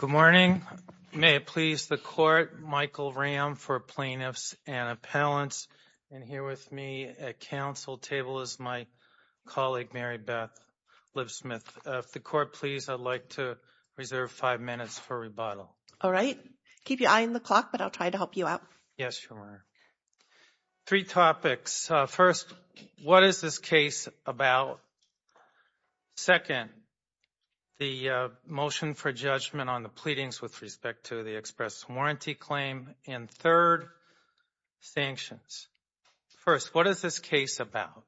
Good morning. May it please the Court, Michael Ram for Plaintiffs and Appellants, and here with me at council table is my colleague Mary Beth Lipsmith. If the Court please, I'd like to reserve five minutes for rebuttal. All right. Keep your eye on the clock, but I'll try to help you out. Yes, Your Honor. Three topics. First, what is this case about? Second, the motion for judgment on the pleadings with respect to the express warranty claim. And third, sanctions. First, what is this case about?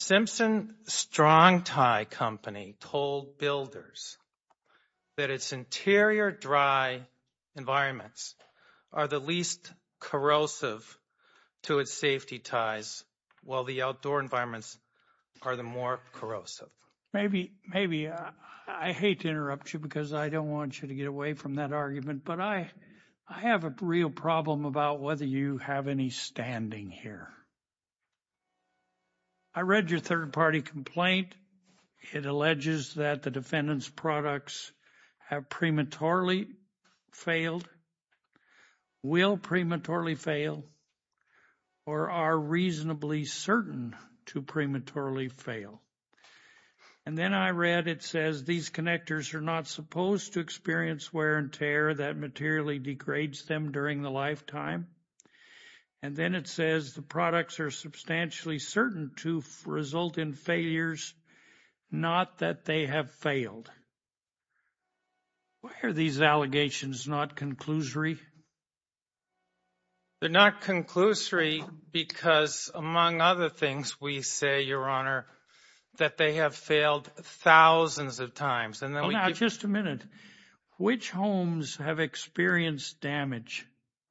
Simpson Strong Tie Company told builders that its interior dry environments are the least corrosive to its safety ties, while the outdoor environments are the more corrosive. Maybe, I hate to interrupt you because I don't want you to get away from that argument, but I have a real problem about whether you have any standing here. I read your third party complaint. It alleges that the defendant's certain to prematurely fail. And then I read it says these connectors are not supposed to experience wear and tear that materially degrades them during the lifetime. And then it says the products are substantially certain to result in failures, not that they have failed. Why are these allegations not conclusory? They're not conclusory because among other things, we say, Your Honor, that they have failed thousands of times. Now, just a minute. Which homes have experienced damage?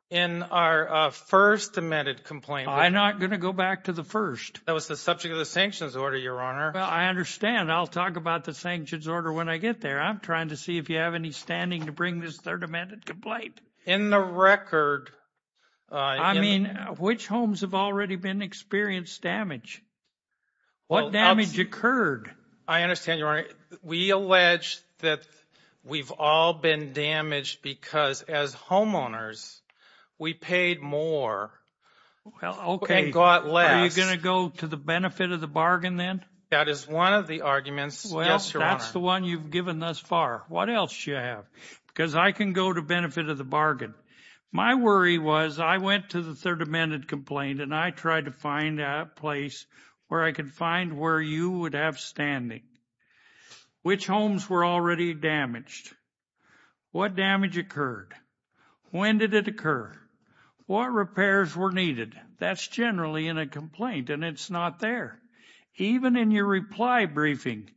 In our first amended complaint. I'm not going to go back to the first. That was the subject of the sanctions order, Your Honor. I understand. I'll talk about the sanctions order when I get there. I'm trying to see if you have any standing to bring this third amended complaint. In the record. I mean, which homes have already been experienced damage? What damage occurred? I understand, Your Honor. We allege that we've all been damaged because as homeowners, we paid more and got less. Are you going to go to the benefit of the bargain then? That is one of the arguments. Well, that's the one you've given thus far. What else do you have? Because I can go to benefit of the bargain. My worry was I went to the third amended complaint and I tried to find a place where I could find where you would have standing. Which homes were already damaged? What damage occurred? When did it occur? What repairs were needed? That's generally in a complaint and it's not there. Even in your reply briefing,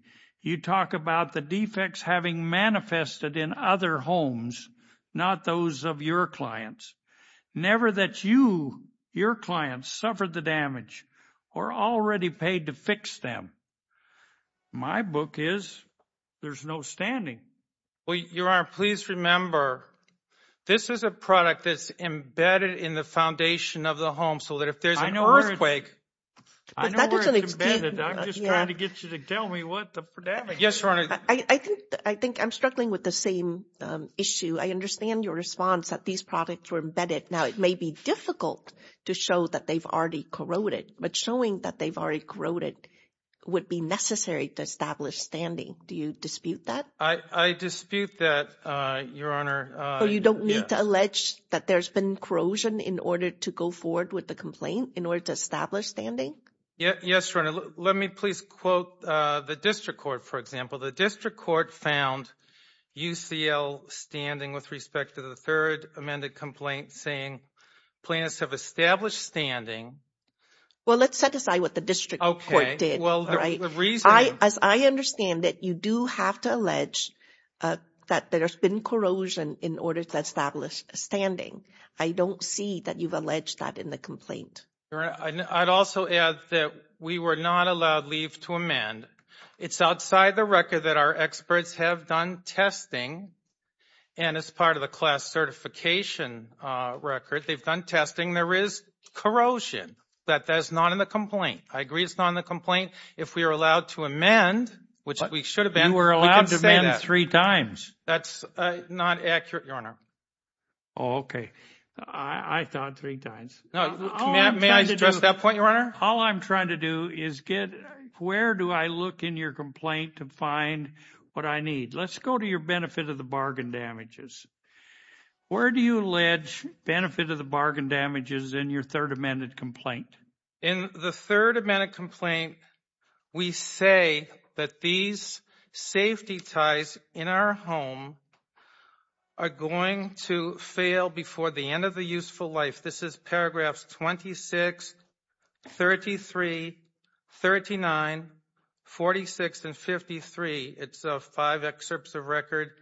you talk about the defects having manifested in other homes, not those of your clients. Never that you, your clients suffered the damage or already paid to fix them. My book is there's no standing. Well, Your Honor, please remember this is a product that's embedded in the foundation of the home so that if there's an earthquake. I know where it's embedded. I'm just trying to get you to tell me what the damage is. Yes, Your Honor. I think I'm struggling with the same issue. I understand your response that these products were embedded. Now, it may be difficult to show that they've already corroded, but showing that they've already corroded would be necessary to establish standing. Do you dispute that? I dispute that, Your Honor. So you don't need to allege that there's been corrosion in order to go forward with the complaint in order to establish standing? Yes, Your Honor. Let me please quote the district court, for example. The district court found UCL standing with respect to the third amended complaint saying plaintiffs have established standing. Well, let's set aside what the district court did, right? As I understand it, you do have to allege that there's been corrosion in order to establish standing. I don't see that you've alleged that in the complaint. I'd also add that we were not allowed leave to amend. It's outside the record that our experts have done testing, and as part of the class certification record, they've done testing. There is corrosion, but that's not in the complaint. I agree it's not in the complaint. If we are allowed to amend, which we should have been, we can say that. That's not accurate, Your Honor. Oh, okay. I thought three times. May I address that point, Your Honor? All I'm trying to do is get where do I look in your complaint to find what I need. Let's go to your benefit of the bargain damages. Where do you allege benefit of the bargain damages in your third amended complaint? In the third amended complaint, we say that these safety ties in our home are going to fail before the end of the useful life. This is paragraphs 26, 33, 39, 46, and 53. It's five excerpts of record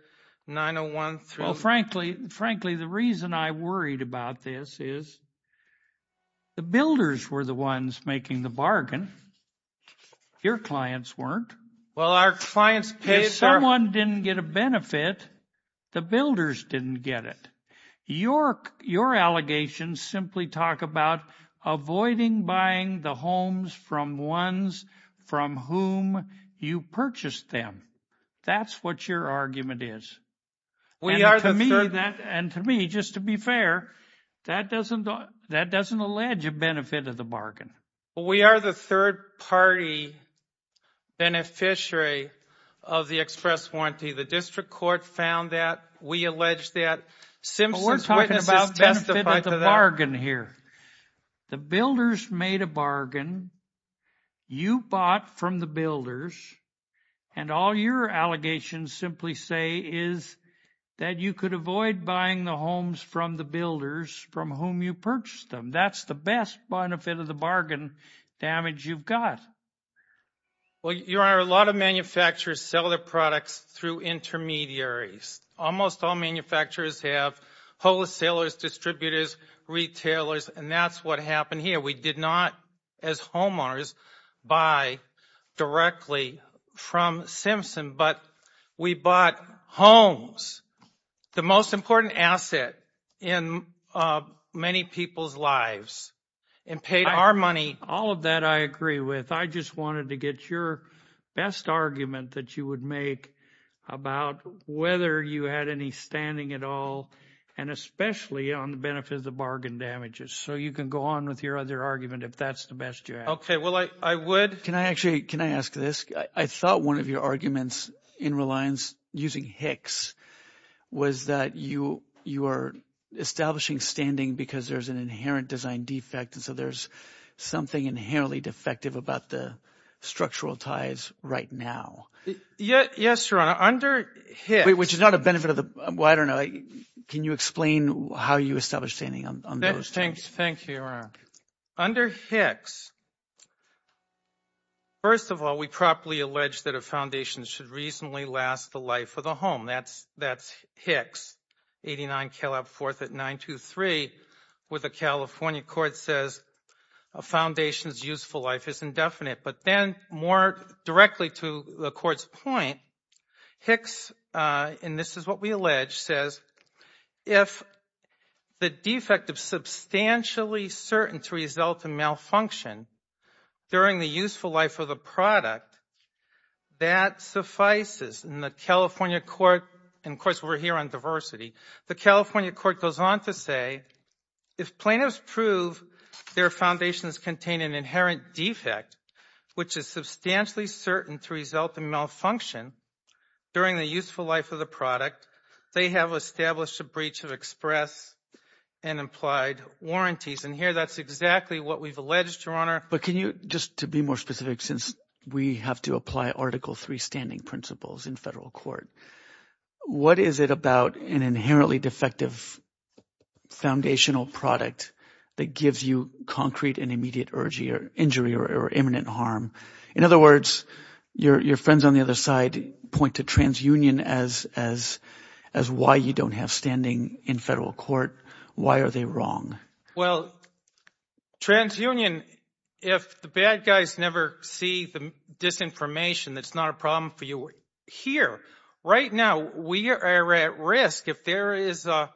9013. Well, frankly, the reason I worried about this is that the builders were the ones making the bargain. Your clients weren't. Well, our clients paid for it. If someone didn't get a benefit, the builders didn't get it. Your allegations simply talk about avoiding buying the homes from ones from whom you purchased them. That's what your argument is. To me, just to be fair, that doesn't allege a benefit of the bargain. We are the third party beneficiary of the express warranty. The district court found that. We allege that. We're talking about benefit of the bargain here. The builders made a bargain. You bought from the builders, and all your allegations simply say is that you could avoid buying the homes from the builders from whom you purchased them. That's the best benefit of the bargain damage you've got. Well, Your Honor, a lot of manufacturers sell their products through intermediaries. Almost all manufacturers have wholesalers, distributors, retailers, and that's what happened here. We did not, as homeowners, buy directly from Simpson, but we bought homes, the most important asset in many people's lives, and paid our money. All of that I agree with. I just wanted to get your best argument that you would make about whether you had any standing at all, and especially on the benefit of the bargain damages. So you can go on with your other argument if that's the best you have. Okay. Well, I would. Can I actually – can I ask this? I thought one of your arguments in Reliance using Hicks was that you are establishing standing because there's an inherent design defect, and so there's something inherently defective about the structural ties right now. Yes, Your Honor. Under Hicks – Which is not a benefit of the – well, I don't know. Can you explain how you establish standing on those? Thank you, Your Honor. Under Hicks, first of all, we properly allege that a foundation should reasonably last the life of the home. That's Hicks, 89 Caleb 4th at 923, where the California court says a foundation's useful life is indefinite. But then, more directly to the court's point, Hicks – and this is what we allege – says if the defective is substantially certain to result in malfunction during the useful life of the product, that suffices. And the California court – and of course, if plaintiffs prove their foundations contain an inherent defect, which is substantially certain to result in malfunction during the useful life of the product, they have established a breach of express and implied warranties. And here, that's exactly what we've alleged, But can you – just to be more specific, since we have to apply Article III standing in federal court, what is it about an inherently defective foundational product that gives you concrete and immediate injury or imminent harm? In other words, your friends on the other side point to transunion as why you don't have standing in federal court. Why are they wrong? Well, transunion – if the bad guys never see the disinformation that's not a problem for you, here. Right now, we are at risk. If there is an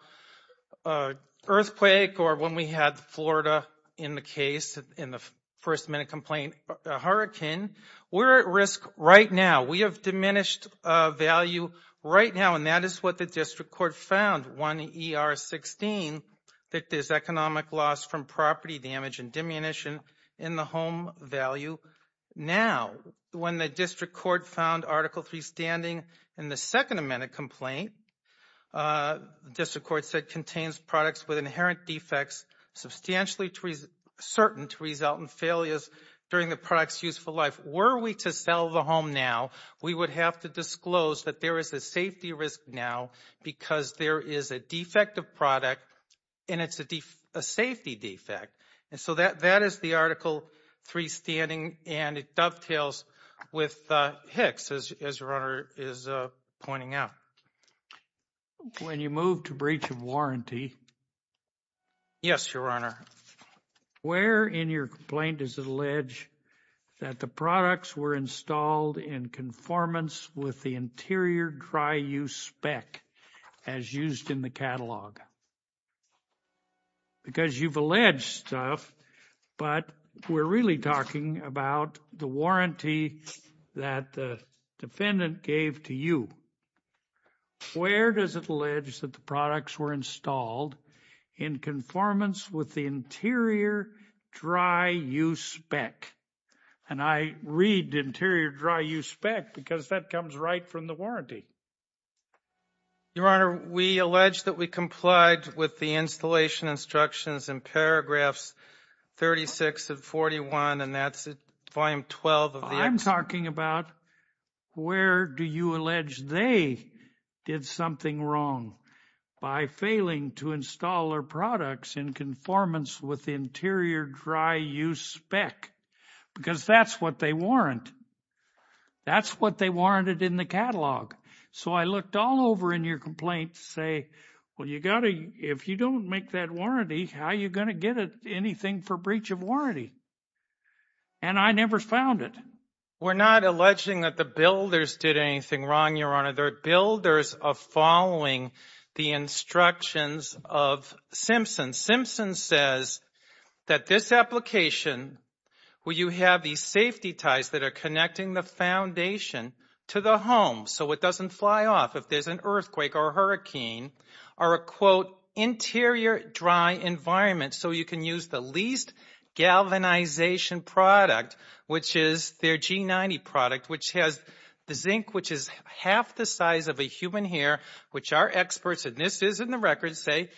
earthquake or when we had Florida in the case, in the first minute complaint, a hurricane, we're at risk right now. We have diminished value right now. And that is what the district court found, 1ER16, that there's economic loss from property damage and diminution in the home value. Now, when the district court found Article III standing in the second amendment complaint, the district court said, contains products with inherent defects substantially certain to result in failures during the product's useful life. Were we to sell the home now, we would have to disclose that there is a safety risk now because there is a defective product and it's a safety defect. And so that is the Article III standing and it dovetails with HICS, as your Honor is pointing out. When you move to breach of warranty – Yes, your Honor. Where in your complaint does it allege that the products were installed in conformance with the interior dry use spec as used in the catalog? Because you've alleged stuff, but we're really talking about the warranty that the defendant gave to you. Where does it allege that the products were installed in conformance with the interior dry use spec? And I read interior dry use spec because that comes right from the warranty. Your Honor, we allege that we complied with the installation instructions in paragraphs 36 of 41 and that's volume 12 of the – I'm talking about where do you allege they did something wrong by failing to install their products in conformance with the interior dry use spec? Because that's what they warrant. That's what they warranted in the catalog. So I looked all over in your complaint to say, well, you got to – if you don't make that warranty, how are you going to get anything for breach of warranty? And I never found it. We're not alleging that the builders did anything wrong, your Honor. They're builders of following the instructions of Simpson. Simpson says that this application, where you have these safety ties that are connecting the foundation to the home so it doesn't fly off if there's an earthquake or a hurricane or a, quote, interior dry environment so you can use the least galvanization product, which is their G90 product, which has the zinc, which is half the size of a human hair, which our experts – and this is in the records – say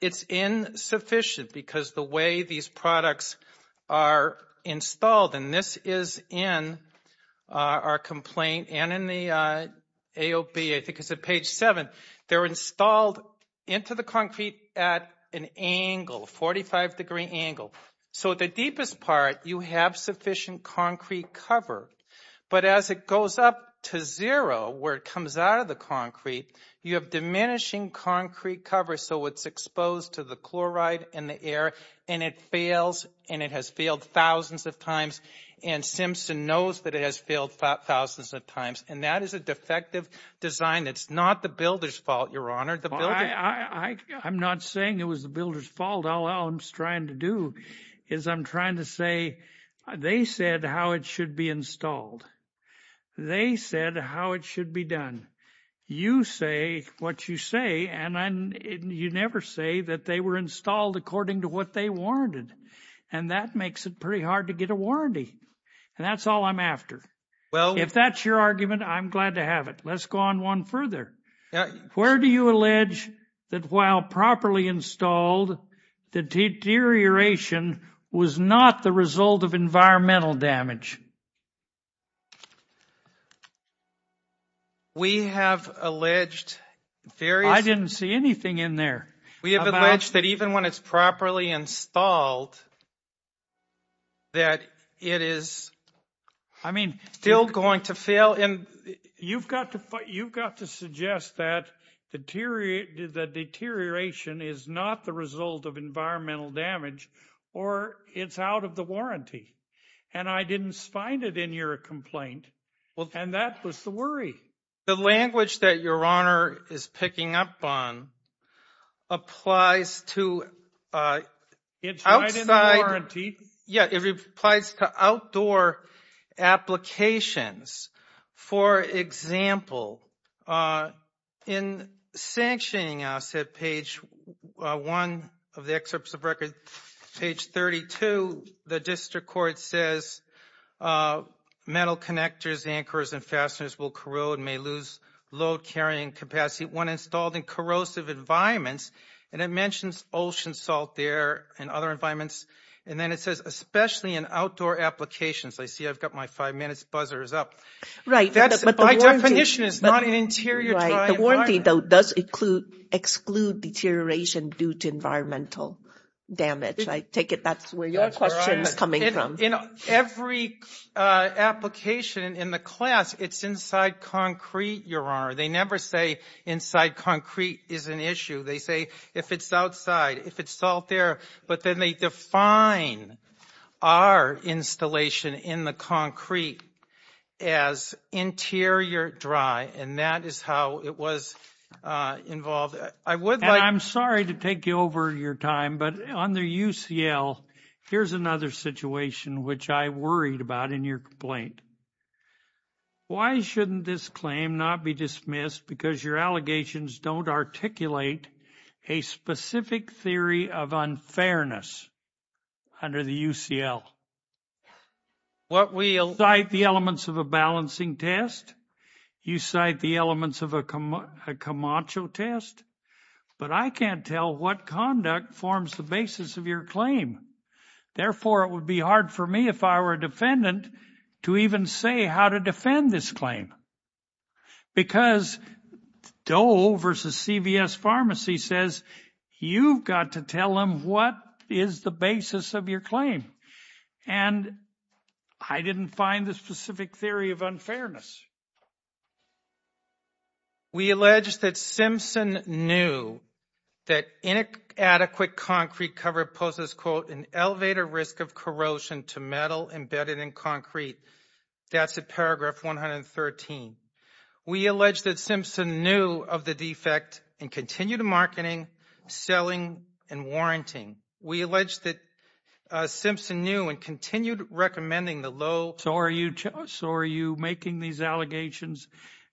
it's insufficient because the way these products are installed – and this is in our complaint and in the AOB, I think it's at page 7. They're installed into the concrete at an angle, 45-degree angle. So the deepest part, you have sufficient concrete cover. But as it goes up to zero, where it comes out of the concrete, you have diminishing concrete cover. So it's exposed to the chloride and the air, and it fails, and it has failed thousands of times. And Simpson knows that it has failed thousands of times. And that is a defective design. It's not the builders' fault, your Honor. I'm not saying it was the builders' fault. All I'm trying to do is I'm trying to say they said how it should be installed. They said how it should be done. You say what you say, and you never say that they were installed according to what they warranted. And that makes it pretty hard to get a warranty. And that's all I'm after. If that's your argument, I'm glad to have it. Let's go on one further. Where do you allege that while properly installed, the deterioration was not the result of environmental damage? We have alleged various... I didn't see anything in there. We have alleged that even when it's properly installed, that it is... I mean, still going to fail in... You've got to suggest that the deterioration is not the result of environmental damage, or it's out of the warranty. And I didn't find it in your complaint. And that was the worry. The language that your Honor is picking up on applies to outside... It's right in the warranty. Yeah, it applies to outdoor applications. For example, in sanctioning us at page one of the excerpts of record, page 32, the district court says, metal connectors, anchors, and fasteners will corrode, may lose load carrying capacity when installed in corrosive environments. And it mentions ocean salt there and other environments. And then it says, especially in outdoor applications. I see I've got my five minutes buzzers up. Right. That's by definition is not an interior dry environment. The warranty though does exclude deterioration due to environmental damage. I take it that's where your question is coming from. Every application in the class, it's inside concrete, Your Honor. They never say inside concrete is an issue. They say if it's outside, if it's salt there, but then they define our installation in the concrete as interior dry. And that is how it was involved. I would like... And I'm sorry to take over your time, but under UCL, here's another situation which I worried about in your complaint. Why shouldn't this claim not be dismissed because your allegations don't articulate a specific theory of unfairness under the UCL? What we... You cite the elements of a balancing test. You cite the elements of a Camacho test, but I can't tell what conduct forms the basis of your claim. Therefore, it would be hard for me if I were a defendant to even say how to defend this claim. Because Doe versus CVS Pharmacy says you've got to tell them what is the basis of your claim. And I didn't find the specific theory of unfairness. We allege that Simpson knew that inadequate concrete cover poses, quote, an elevator risk of corrosion to metal embedded in concrete. That's at paragraph 113. We allege that Simpson knew of the defect and continued marketing, selling, and warranting. We allege that Simpson knew and continued recommending the low... So are you making these allegations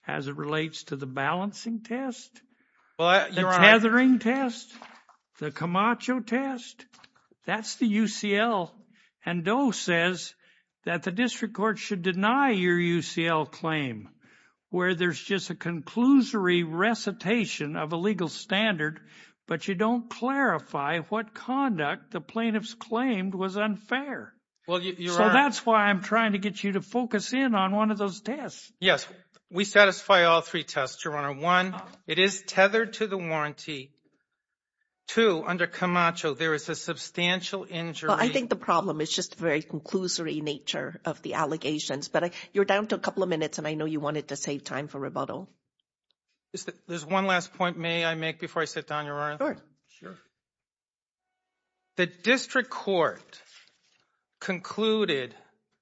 as it relates to the balancing test, the tethering test, the Camacho test? That's the UCL. And Doe says that the district court should deny your UCL claim, where there's just a conclusory recitation of a legal standard, but you don't clarify what conduct the plaintiffs claimed was unfair. So that's why I'm trying to get you to focus in on one of those tests. Yes. We satisfy all three tests, Your Honor. One, it is tethered to the warranty. Two, under Camacho, there is a substantial injury. Well, I think the problem is just the very conclusory nature of the allegations. But you're down to a couple of minutes, and I know you wanted to save time for rebuttal. There's one last point may I make before I sit down, Your Honor? Sure. Sure. The district court concluded,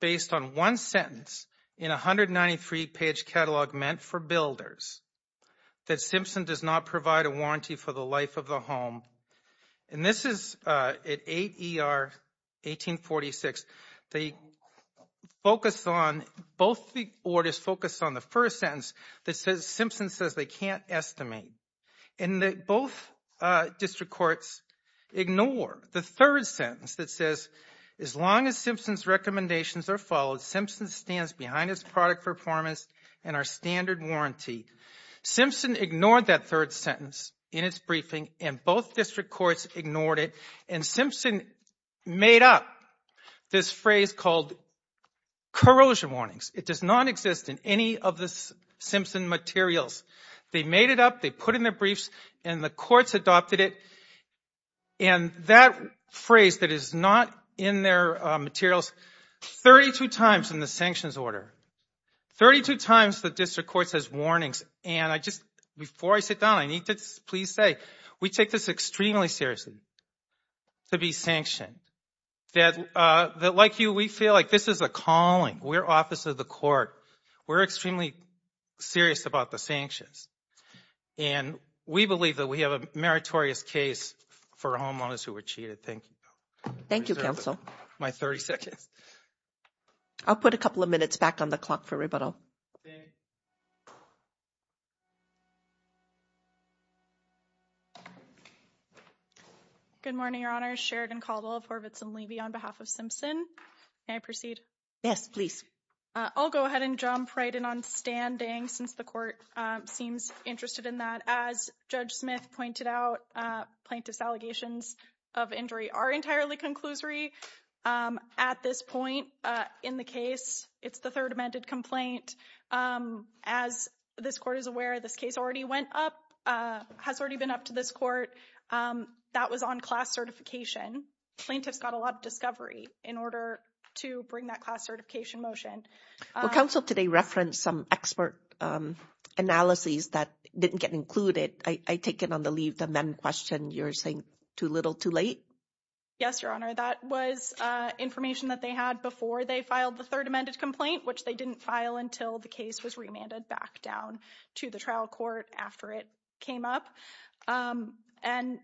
based on one sentence in a 193-page catalog meant for builders, that Simpson does not provide a warranty for the life of the home. And this is at 8 ER 1846. They focus on, both the orders focus on the first sentence that says Simpson says they can't estimate. And both district courts ignore the third sentence that says, as long as Simpson's recommendations are followed, Simpson stands behind his product performance and our standard warranty. Simpson ignored that third sentence in its briefing, and both district courts ignored it. And Simpson made up this phrase called corrosion warnings. It does not exist in any of the Simpson materials. They made it up. They put in their briefs, and the courts adopted it. And that phrase that is not in their materials, 32 times in the sanctions order, 32 times the district court says warnings. And I just, before I sit down, I need to please say, we take this extremely seriously to be sanctioned. That like you, we feel like this is a calling. We're office of the court. We're extremely serious about the sanctions. And we believe that we have a meritorious case for homeowners who were cheated. Thank you. Thank you, counsel. My 30 seconds. I'll put a couple of minutes back on the clock for rebuttal. Good morning, Your Honor. Sheridan Caldwell of Horvitz and Levy on behalf of Simpson. May I proceed? Yes, please. I'll go ahead and jump right in on standing since the court seems interested in that. As at this point in the case, it's the third amended complaint. As this court is aware, this case already went up, has already been up to this court. That was on class certification. Plaintiffs got a lot of discovery in order to bring that class certification motion. Well, counsel today referenced some expert analyses that didn't get included. I take it on the leave the men question you're saying too little too late. Yes, Your Honor. That was information that they had before they filed the third amended complaint, which they didn't file until the case was remanded back down to the trial court after it came up and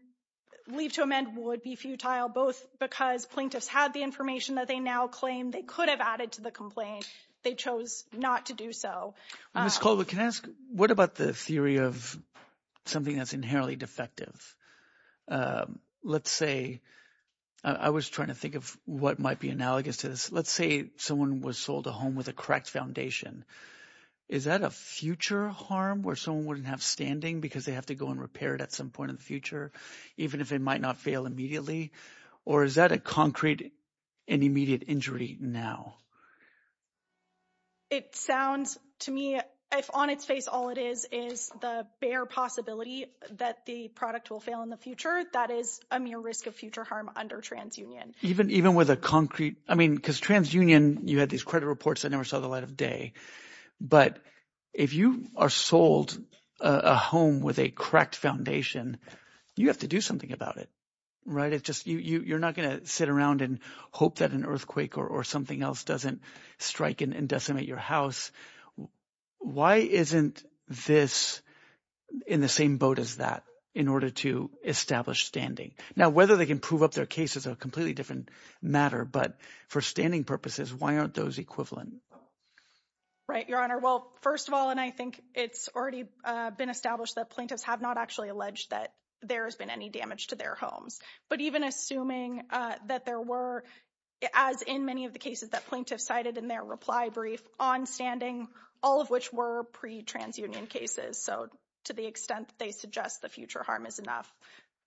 leave to amend would be futile, both because plaintiffs had the information that they now claim they could have added to the complaint. They chose not to do so. Ms. Caldwell, can I ask, what about the theory of something that's inherently defective? Let's say, I was trying to think of what might be analogous to this. Let's say someone was sold a home with a cracked foundation. Is that a future harm where someone wouldn't have standing because they have to go and repair it at some point in the future, even if it might not fail immediately? Or is that a concrete and immediate injury now? It sounds to me, if on its face, all it is, is the bare possibility that the product will fail in the future. That is a mere risk of future harm under TransUnion. Even with a concrete, I mean, because TransUnion, you had these credit reports. I never saw the light of day. But if you are sold a home with a cracked foundation, you have to do something about it, right? You're not going to sit around and hope that an earthquake or something else doesn't strike and decimate your house. Why isn't this in the same boat as that in order to establish standing? Now, whether they can prove up their case is a completely different matter. But for standing purposes, why aren't those equivalent? Right, Your Honor. Well, first of all, and I think it's already been established that plaintiffs have not actually alleged that there has been any damage to their homes. But even assuming that there were, as in many of the cases that plaintiffs cited in their reply brief on standing, all of which were pre-TransUnion cases, so to the extent that they suggest the future harm is enough,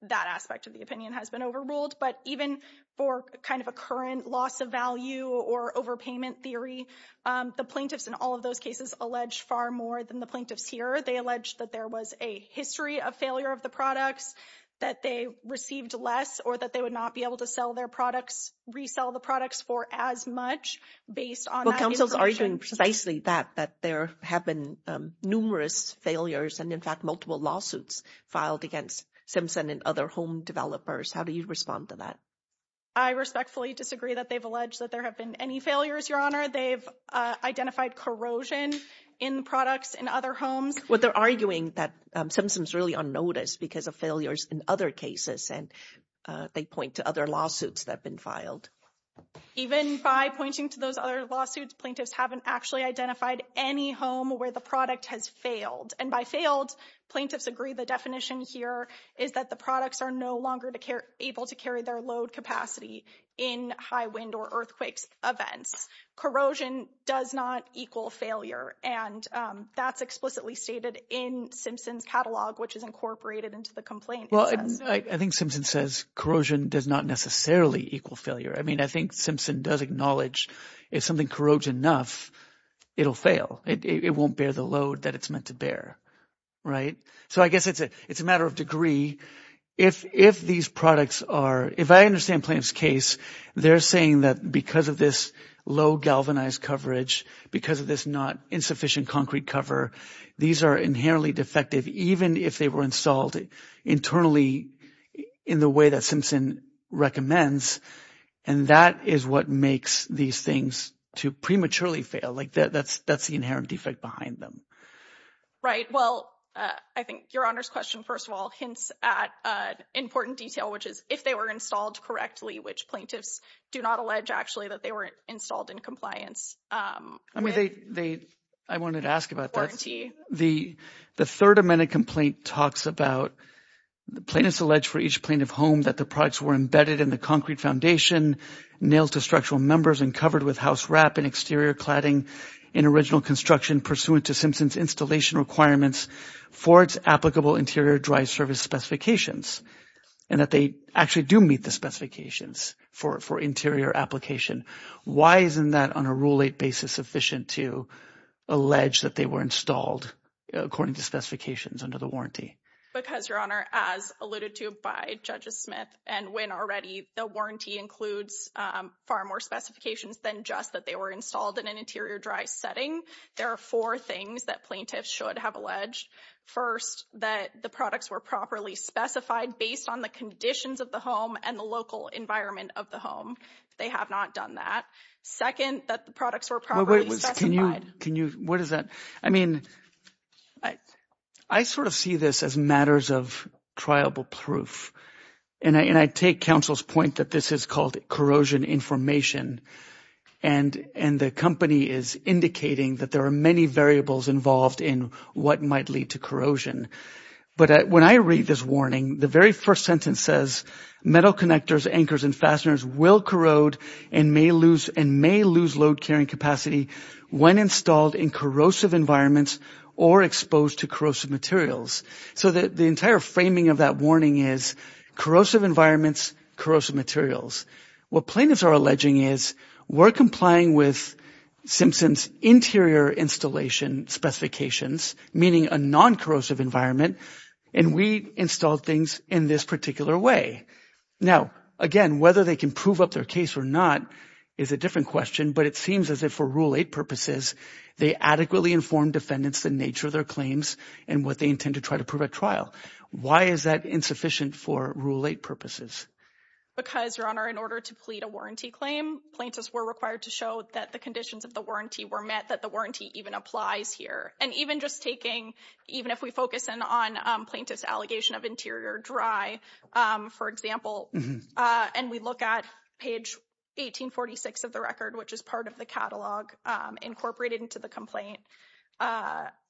that aspect of the opinion has been overruled. But even for kind of a current loss of value or overpayment theory, the plaintiffs in all of those cases allege far more than the plaintiffs here. They allege that there was a history of failure of the products, that they received less, or that they would not be able to sell their products, resell the products for as much based on that information. Well, counsel's arguing precisely that, that there have been numerous failures and, in fact, multiple lawsuits filed against Simpson and other home developers. How do you respond to that? I respectfully disagree that they've alleged that there have been any failures, Your Honor. They've identified corrosion in products in other homes. Well, they're arguing that Simpson's really unnoticed because of failures in other cases, and they point to other lawsuits that have been filed. Even by pointing to those other lawsuits, plaintiffs haven't actually identified any home where the product has failed. And by failed, plaintiffs agree the definition here is that the products are no longer able to carry their load capacity in high wind or earthquakes events. Corrosion does not equal failure, and that's explicitly stated in Simpson's catalog, which is incorporated into the complaint. Well, I think Simpson says corrosion does not necessarily equal failure. I mean, I think Simpson does acknowledge if something corrodes enough, it'll fail. It won't bear the load that it's meant to bear, right? So I guess it's a matter of degree. If these products are, if I understand plaintiff's case, they're saying that because of this low galvanized coverage, because of this not insufficient concrete cover, these are inherently defective, even if they were installed internally in the way that Simpson recommends. And that is what makes these things to prematurely fail like that. That's that's the inherent defect behind them. Right. Well, I think your honor's question, first of all, hints at an important detail, which is if they were installed correctly, which plaintiffs do not allege, actually, that they weren't installed in compliance. I mean, I wanted to ask about that. The third amended complaint talks about plaintiffs allege for each plaintiff home that the products were embedded in the concrete foundation, nailed to structural members, and covered with house wrap and exterior cladding in original construction pursuant to Simpson's installation requirements for its applicable interior dry service specifications, and that they actually do the specifications for interior application. Why isn't that on a rule eight basis sufficient to allege that they were installed according to specifications under the warranty? Because your honor, as alluded to by judges Smith and Wynne already, the warranty includes far more specifications than just that they were installed in an interior dry setting. There are four things that plaintiffs should have alleged. First, that the products were specified based on the conditions of the home and the local environment of the home. They have not done that. Second, that the products were properly specified. What is that? I mean, I sort of see this as matters of triable proof, and I take counsel's point that this is called corrosion information, and the company is indicating that there are many variables involved in what might lead to corrosion. But when I read this warning, the very first sentence says, metal connectors, anchors, and fasteners will corrode and may lose load carrying capacity when installed in corrosive environments or exposed to corrosive materials. So the entire framing of that warning is corrosive environments, corrosive materials. What plaintiffs are alleging is we're complying with Simpson's interior installation specifications, meaning a non-corrosive environment, and we installed things in this particular way. Now, again, whether they can prove up their case or not is a different question, but it seems as if for Rule 8 purposes, they adequately informed defendants the nature of their claims and what they intend to try to prove at trial. Why is that insufficient for Rule 8 purposes? Because, Your Honor, in order to plead a warranty claim, plaintiffs were required to show that the conditions of the warranty were met, that the warranty even applies here. And even just taking, even if we focus in on plaintiff's allegation of interior dry, for example, and we look at page 1846 of the record, which is part of the catalog incorporated into the complaint,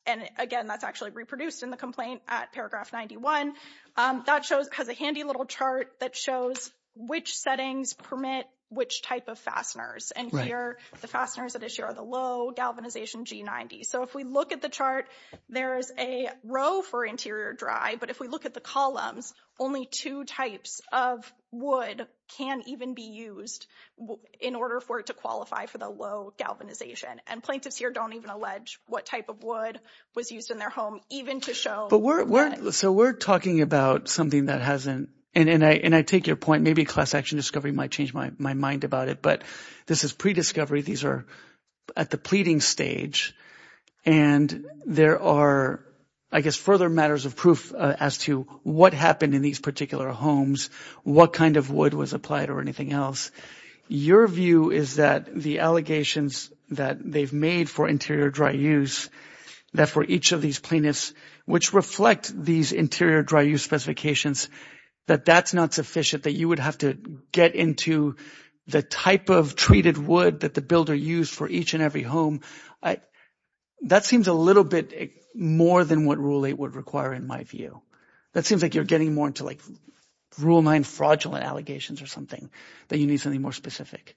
and again, that's actually reproduced in the complaint at paragraph 91, that shows, has a handy little chart that shows which settings permit which type of fasteners. And here, the fasteners that issue are the low galvanization G90. So if we look at the chart, there's a row for interior dry, but if we look at the columns, only two types of wood can even be used in order for it to qualify for the low galvanization. And plaintiffs here don't even allege what type of wood was used in their home, even to show. So we're talking about something that hasn't, and I take your point, maybe class action discovery might change my mind about it, but this is pre-discovery. These are at the pleading stage, and there are, I guess, further matters of proof as to what happened in these particular homes, what kind of wood was or anything else. Your view is that the allegations that they've made for interior dry use, that for each of these plaintiffs, which reflect these interior dry use specifications, that that's not sufficient, that you would have to get into the type of treated wood that the builder used for each and every home. That seems a little bit more than what Rule 8 would require, in my view. That seems like you're getting more into, like, Rule 9 fraudulent allegations or something, that you need something more specific.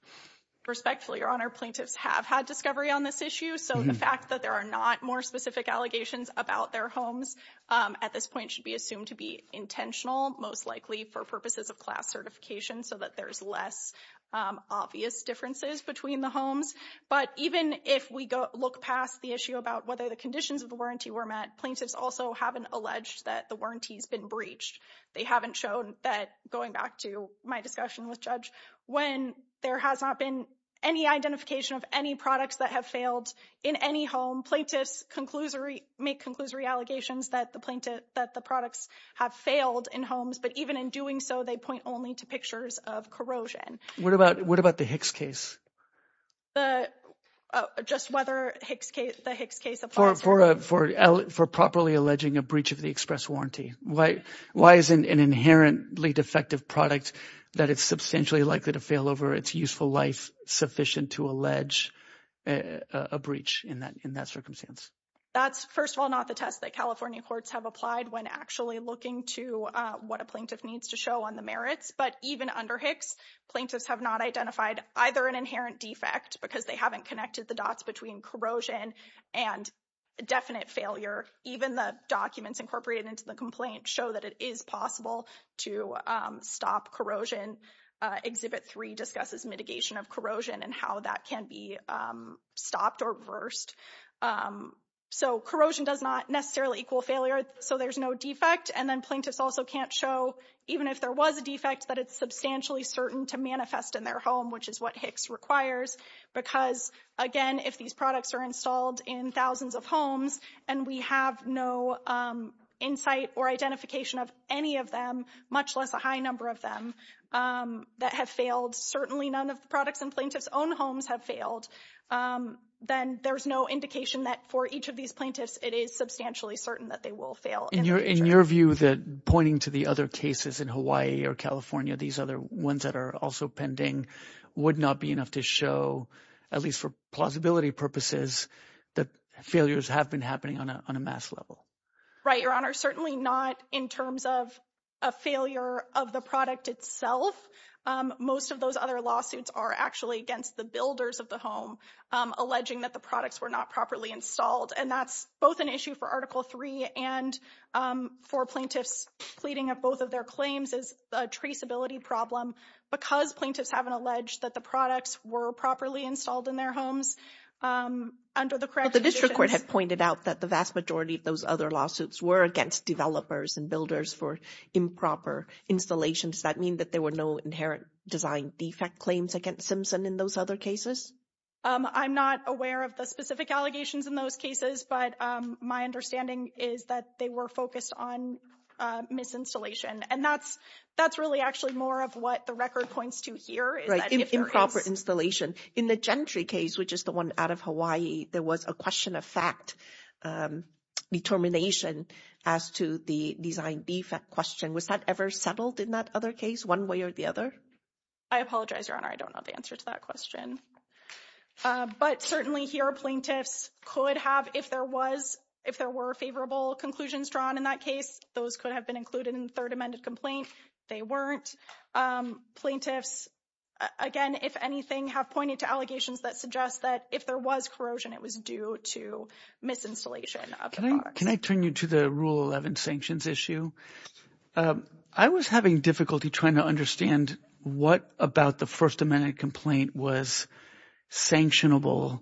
Respectfully, Your Honor, plaintiffs have had discovery on this issue. So the fact that there are not more specific allegations about their homes at this point should be assumed to be intentional, most likely for purposes of class certification, so that there's less obvious differences between the homes. But even if we look past the issue about whether the conditions of the warranty were met, plaintiffs also have alleged that the warranty has been breached. They haven't shown that, going back to my discussion with Judge, when there has not been any identification of any products that have failed in any home, plaintiffs make conclusory allegations that the products have failed in homes. But even in doing so, they point only to pictures of corrosion. What about the Hicks case? Just whether the Hicks case applies. For properly alleging a breach of the express warranty. Why isn't an inherently defective product that is substantially likely to fail over its useful life sufficient to allege a breach in that circumstance? That's, first of all, not the test that California courts have applied when actually looking to what a plaintiff needs to show on the merits. But even under Hicks, plaintiffs have not identified either an inherent defect, because they haven't connected the dots between corrosion and definite failure. Even the documents incorporated into the complaint show that it is possible to stop corrosion. Exhibit 3 discusses mitigation of corrosion and how that can be stopped or reversed. So corrosion does not necessarily equal failure, so there's no defect. And then plaintiffs also can't show, even if there was a defect, that it's substantially certain to manifest in their home, what Hicks requires. Because, again, if these products are installed in thousands of homes and we have no insight or identification of any of them, much less a high number of them, that have failed, certainly none of the products in plaintiffs' own homes have failed, then there's no indication that for each of these plaintiffs, it is substantially certain that they will fail. In your view, pointing to the other cases in Hawaii or California, these other ones that are also pending, would not be enough to show, at least for plausibility purposes, that failures have been happening on a mass level? Right, Your Honor. Certainly not in terms of a failure of the product itself. Most of those other lawsuits are actually against the builders of the home, alleging that the products were not properly installed. And that's both an issue for Article 3 and for plaintiffs pleading of both of their claims as a traceability problem, because plaintiffs haven't alleged that the products were properly installed in their homes under the correct conditions. The district court had pointed out that the vast majority of those other lawsuits were against developers and builders for improper installations. Does that mean that there were no inherent design defect claims against Simpson in those other cases? I'm not aware of the specific allegations in those cases, but my understanding is that they were focused on misinstallation. And that's really actually more of what the record points to here. Improper installation. In the Gentry case, which is the one out of Hawaii, there was a question of fact determination as to the design defect question. Was that ever settled in that other case, one way or the other? I apologize, Your Honor. I don't know the answer to that question. But certainly here, plaintiffs could have, if there was, if there were favorable conclusions drawn in that case, those could have been included in the third amended complaint. They weren't. Plaintiffs, again, if anything, have pointed to allegations that suggest that if there was corrosion, it was due to misinstallation of the products. Can I turn you to the Rule 11 sanctions issue? I was having difficulty trying to understand what about the first amendment complaint was sanctionable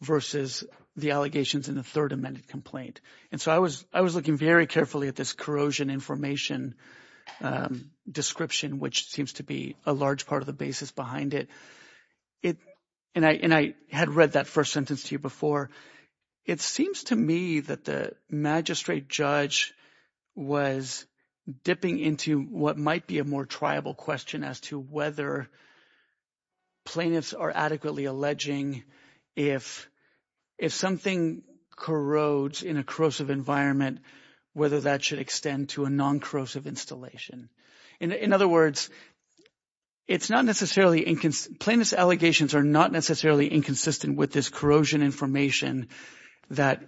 versus the allegations in the third amended complaint. And so I was I was looking very carefully at this corrosion information description, which seems to be a large part of the basis behind it. It and I and I had read that first sentence to you before. It seems to me that the magistrate judge was dipping into what might be a more triable question as to whether plaintiffs are adequately alleging if if something corrodes in a corrosive environment, whether that should extend to a non-corrosive installation. In other words, it's not necessarily inconsistent. Plaintiffs' allegations are not necessarily inconsistent with this corrosion information that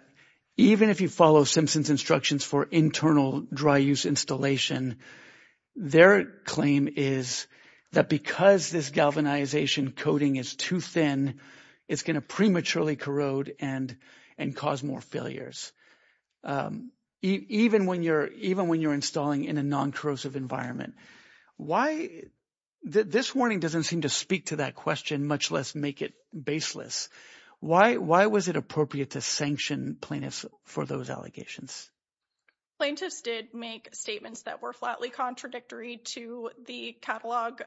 even if you follow Simpson's instructions for internal dry use installation, their claim is that because this galvanization coating is too thin, it's going to prematurely corrode and and cause more failures. Even when you're even when you're installing in a non-corrosive environment, why this warning doesn't seem to speak to that question, much less make it baseless. Why why was it appropriate to sanction plaintiffs for those allegations? Plaintiffs did make statements that were flatly contradictory to the catalog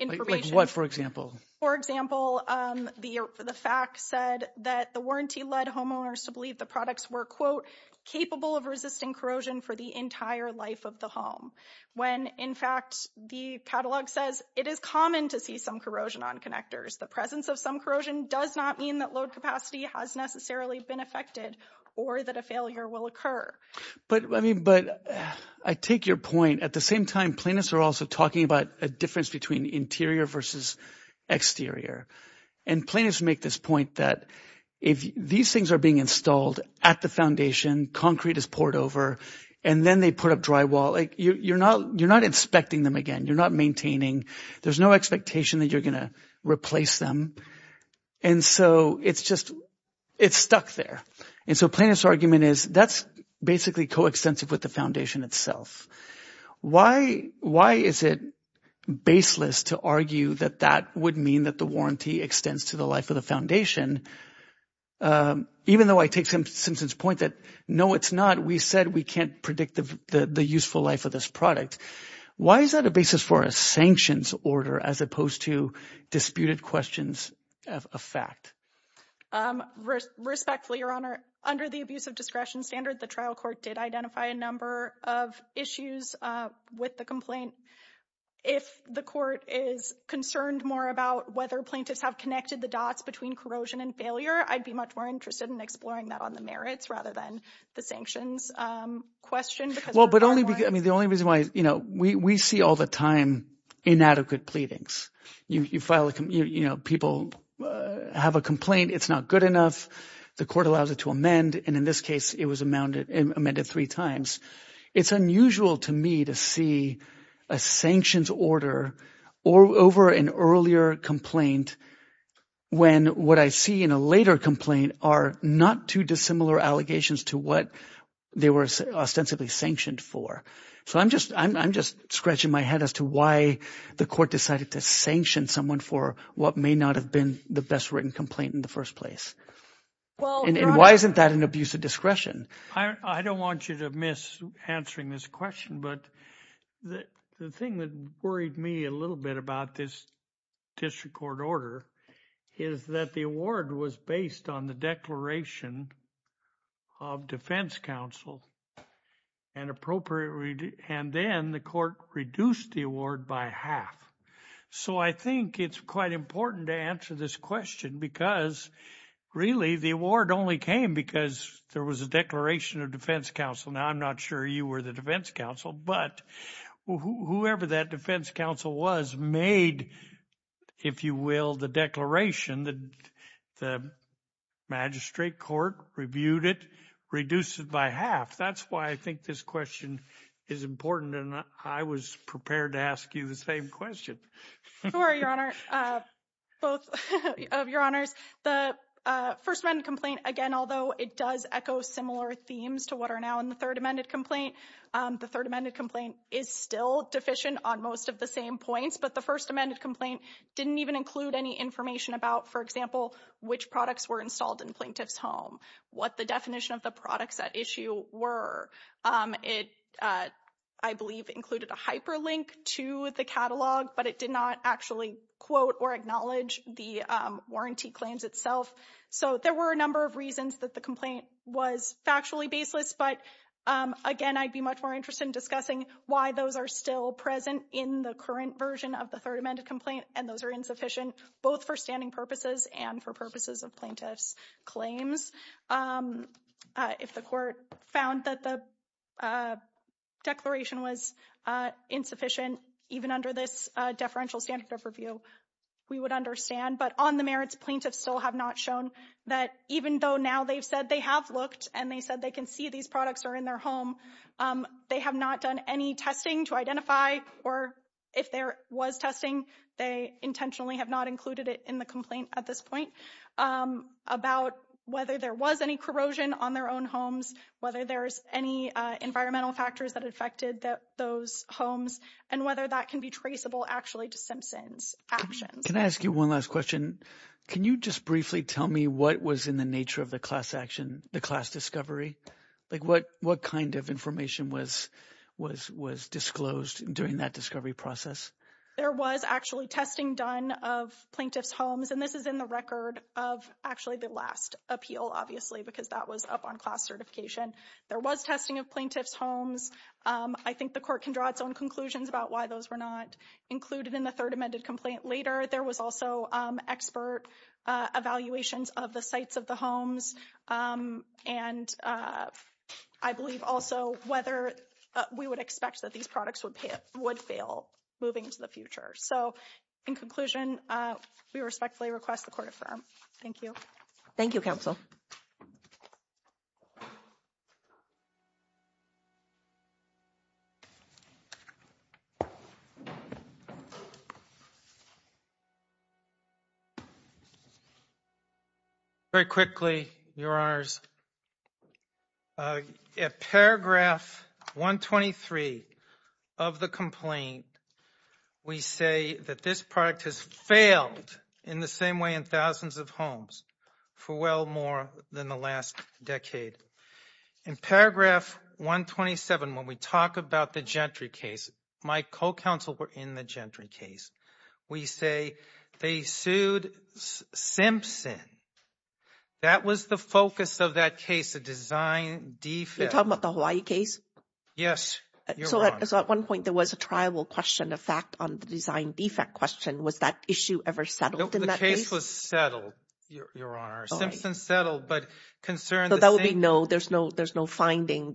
information. Like what, for example? For example, the fact said that the warranty led homeowners to believe the products were, quote, capable of resisting corrosion for the entire life of the home, when in fact the catalog says it is common to see some corrosion on connectors. The presence of some corrosion does not mean that load capacity has necessarily been affected or that a failure will occur. But I mean, but I take your point. At the same time, plaintiffs are also talking about a difference between interior versus exterior. And plaintiffs make this point that if these things are being installed at the foundation, concrete is poured over and then they put up drywall, like you're you're not inspecting them again. You're not maintaining. There's no expectation that you're going to replace them. And so it's just it's stuck there. And so plaintiffs argument is that's basically coextensive with the foundation itself. Why why is it baseless to argue that that would mean that the warranty extends to the life of the foundation? Even though I take some point that, no, it's not. We said we can't predict the useful life of this product. Why is that a basis for a sanctions order as opposed to disputed questions of a fact? Respectfully, Your Honor, under the abuse of discretion standard, the trial court did identify a number of issues with the complaint. If the court is concerned more about whether plaintiffs have connected the dots between corrosion and failure, I'd be much more interested in exploring that on the merits rather than the sanctions question. Well, but only I mean, the only reason why, you know, we see all the time inadequate pleadings. You file, you know, people have a complaint. It's not good enough. The court allows it to amend. And in this case, it was amounted and amended three times. It's unusual to me to see a sanctions order or over an earlier complaint when what I see in a later complaint are not too dissimilar allegations to what they were ostensibly sanctioned for. So I'm just I'm just scratching my head as to why the court decided to sanction someone for what may not have been the best written complaint in the first place. And why isn't that an abuse of discretion? I don't want you to miss answering this question. But the thing that worried me a little bit about this district court order is that the award was based on the declaration of defense counsel and appropriately. And then the court reduced the award by half. So I think it's quite important to answer this question because really, the award only came because there was a declaration of defense counsel. Now, I'm not sure you were the defense counsel, but whoever that defense counsel was made, if you will, the declaration that the magistrate court reviewed it, reduced it by half. That's why I think this question is important. And I was prepared to ask you the same question. For your honor, both of your honors, the first round complaint, again, although it does echo similar themes to what are now in the third amended complaint, the third amended complaint is still deficient on most of the same points. But the first amended complaint didn't even include any information about, for example, which products were installed in plaintiff's home, what the definition of the products at issue were. It, I believe, included a hyperlink to the catalog, but it did not actually quote or acknowledge the warranty claims itself. So there were a number of reasons that the complaint was factually baseless. But again, I'd be much more interested in discussing why those are still present in the current version of the third amended complaint, and those are insufficient both for standing purposes and for purposes of plaintiff's claims. If the court found that the declaration was insufficient, even under this deferential standard of review, we would understand. But on the merits, plaintiffs still have not shown that even though now they've said they have looked and they said they can see these products are in their home, they have not done any testing to identify, or if there was testing, they intentionally have not included it in the complaint at this point, about whether there was any corrosion on their own homes, whether there's any environmental factors that affected those homes, and whether that can be traceable actually to Simpson's actions. Can I ask you one last question? Can you just briefly tell me what was in the nature of the class action, the class discovery? What kind of information was disclosed during that discovery process? There was actually testing done of plaintiff's homes, and this is in the record of actually the last appeal, obviously, because that was up on class certification. There was testing of plaintiff's homes. I think the court can draw its own conclusions about why those were not included in the third amended complaint later. There was also expert evaluations of the sites of the homes, and I believe also whether we would expect that these products would fail moving into the future. So in conclusion, we respectfully request the court affirm. Thank you. Thank you, counsel. Very quickly, Your Honors, at paragraph 123 of the complaint, we say that this product has failed in the same way in thousands of homes for well more than the last decade. In paragraph 127, when we talk about the Gentry case, my co-counsel were in the Gentry case. We say they sued Simpson. That was the focus of that case, the design defect. You're talking about the Hawaii case? Yes, Your Honor. So at one point, there was a trial question, a fact on the design defect question. Was that issue ever settled in that case? No, the case was settled, Your Honor. Simpson settled, but concern the same... No finding,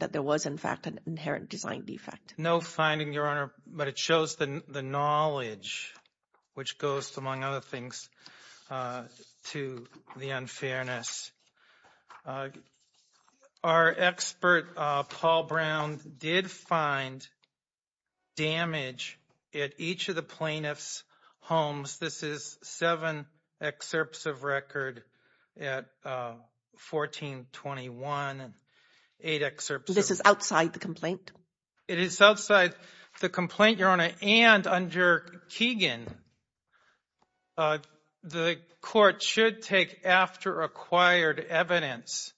Your Honor, but it shows the knowledge, which goes, among other things, to the unfairness. Our expert, Paul Brown, did find damage at each of the plaintiff's homes. This is seven excerpts of record at 1421 and eight excerpts... This is outside the complaint? It is outside the complaint, Your Honor, and under Keegan, the court should take after acquired evidence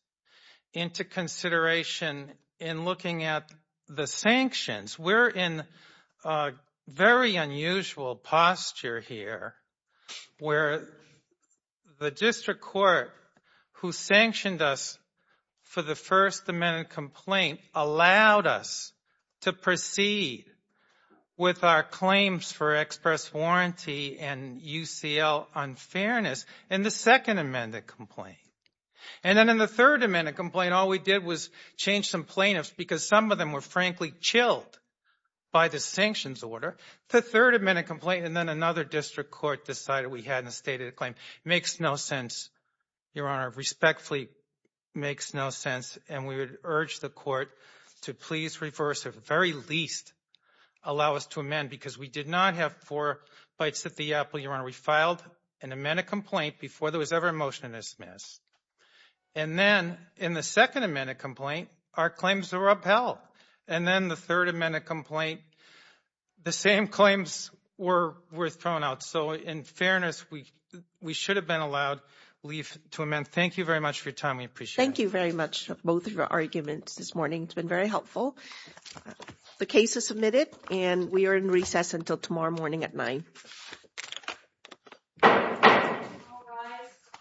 into consideration in looking at the sanctions. We're in a very unusual posture here, where the district court who sanctioned us for the first amended complaint allowed us to proceed with our claims for express warranty and UCL unfairness in the second amended complaint. And then in the third amended complaint, all we did was change some plaintiffs because some of them were, frankly, chilled by the sanctions order, the third amended complaint, and then another district court decided we hadn't stated the claim. It makes no sense, Your Honor, respectfully, makes no sense, and we would urge the court to please reverse, at the very least, allow us to amend because we did not have four bites at the apple, Your Honor. We filed an amended complaint before there was ever a motion to dismiss. And then in the second amended complaint, our claims were upheld. And then the third amended complaint, the same claims were thrown out. So in fairness, we should have been allowed leave to amend. Thank you very much for your time. We appreciate it. Thank you very much, both of your arguments this morning. It's been very helpful. The case is submitted and we are in recess until tomorrow morning at nine.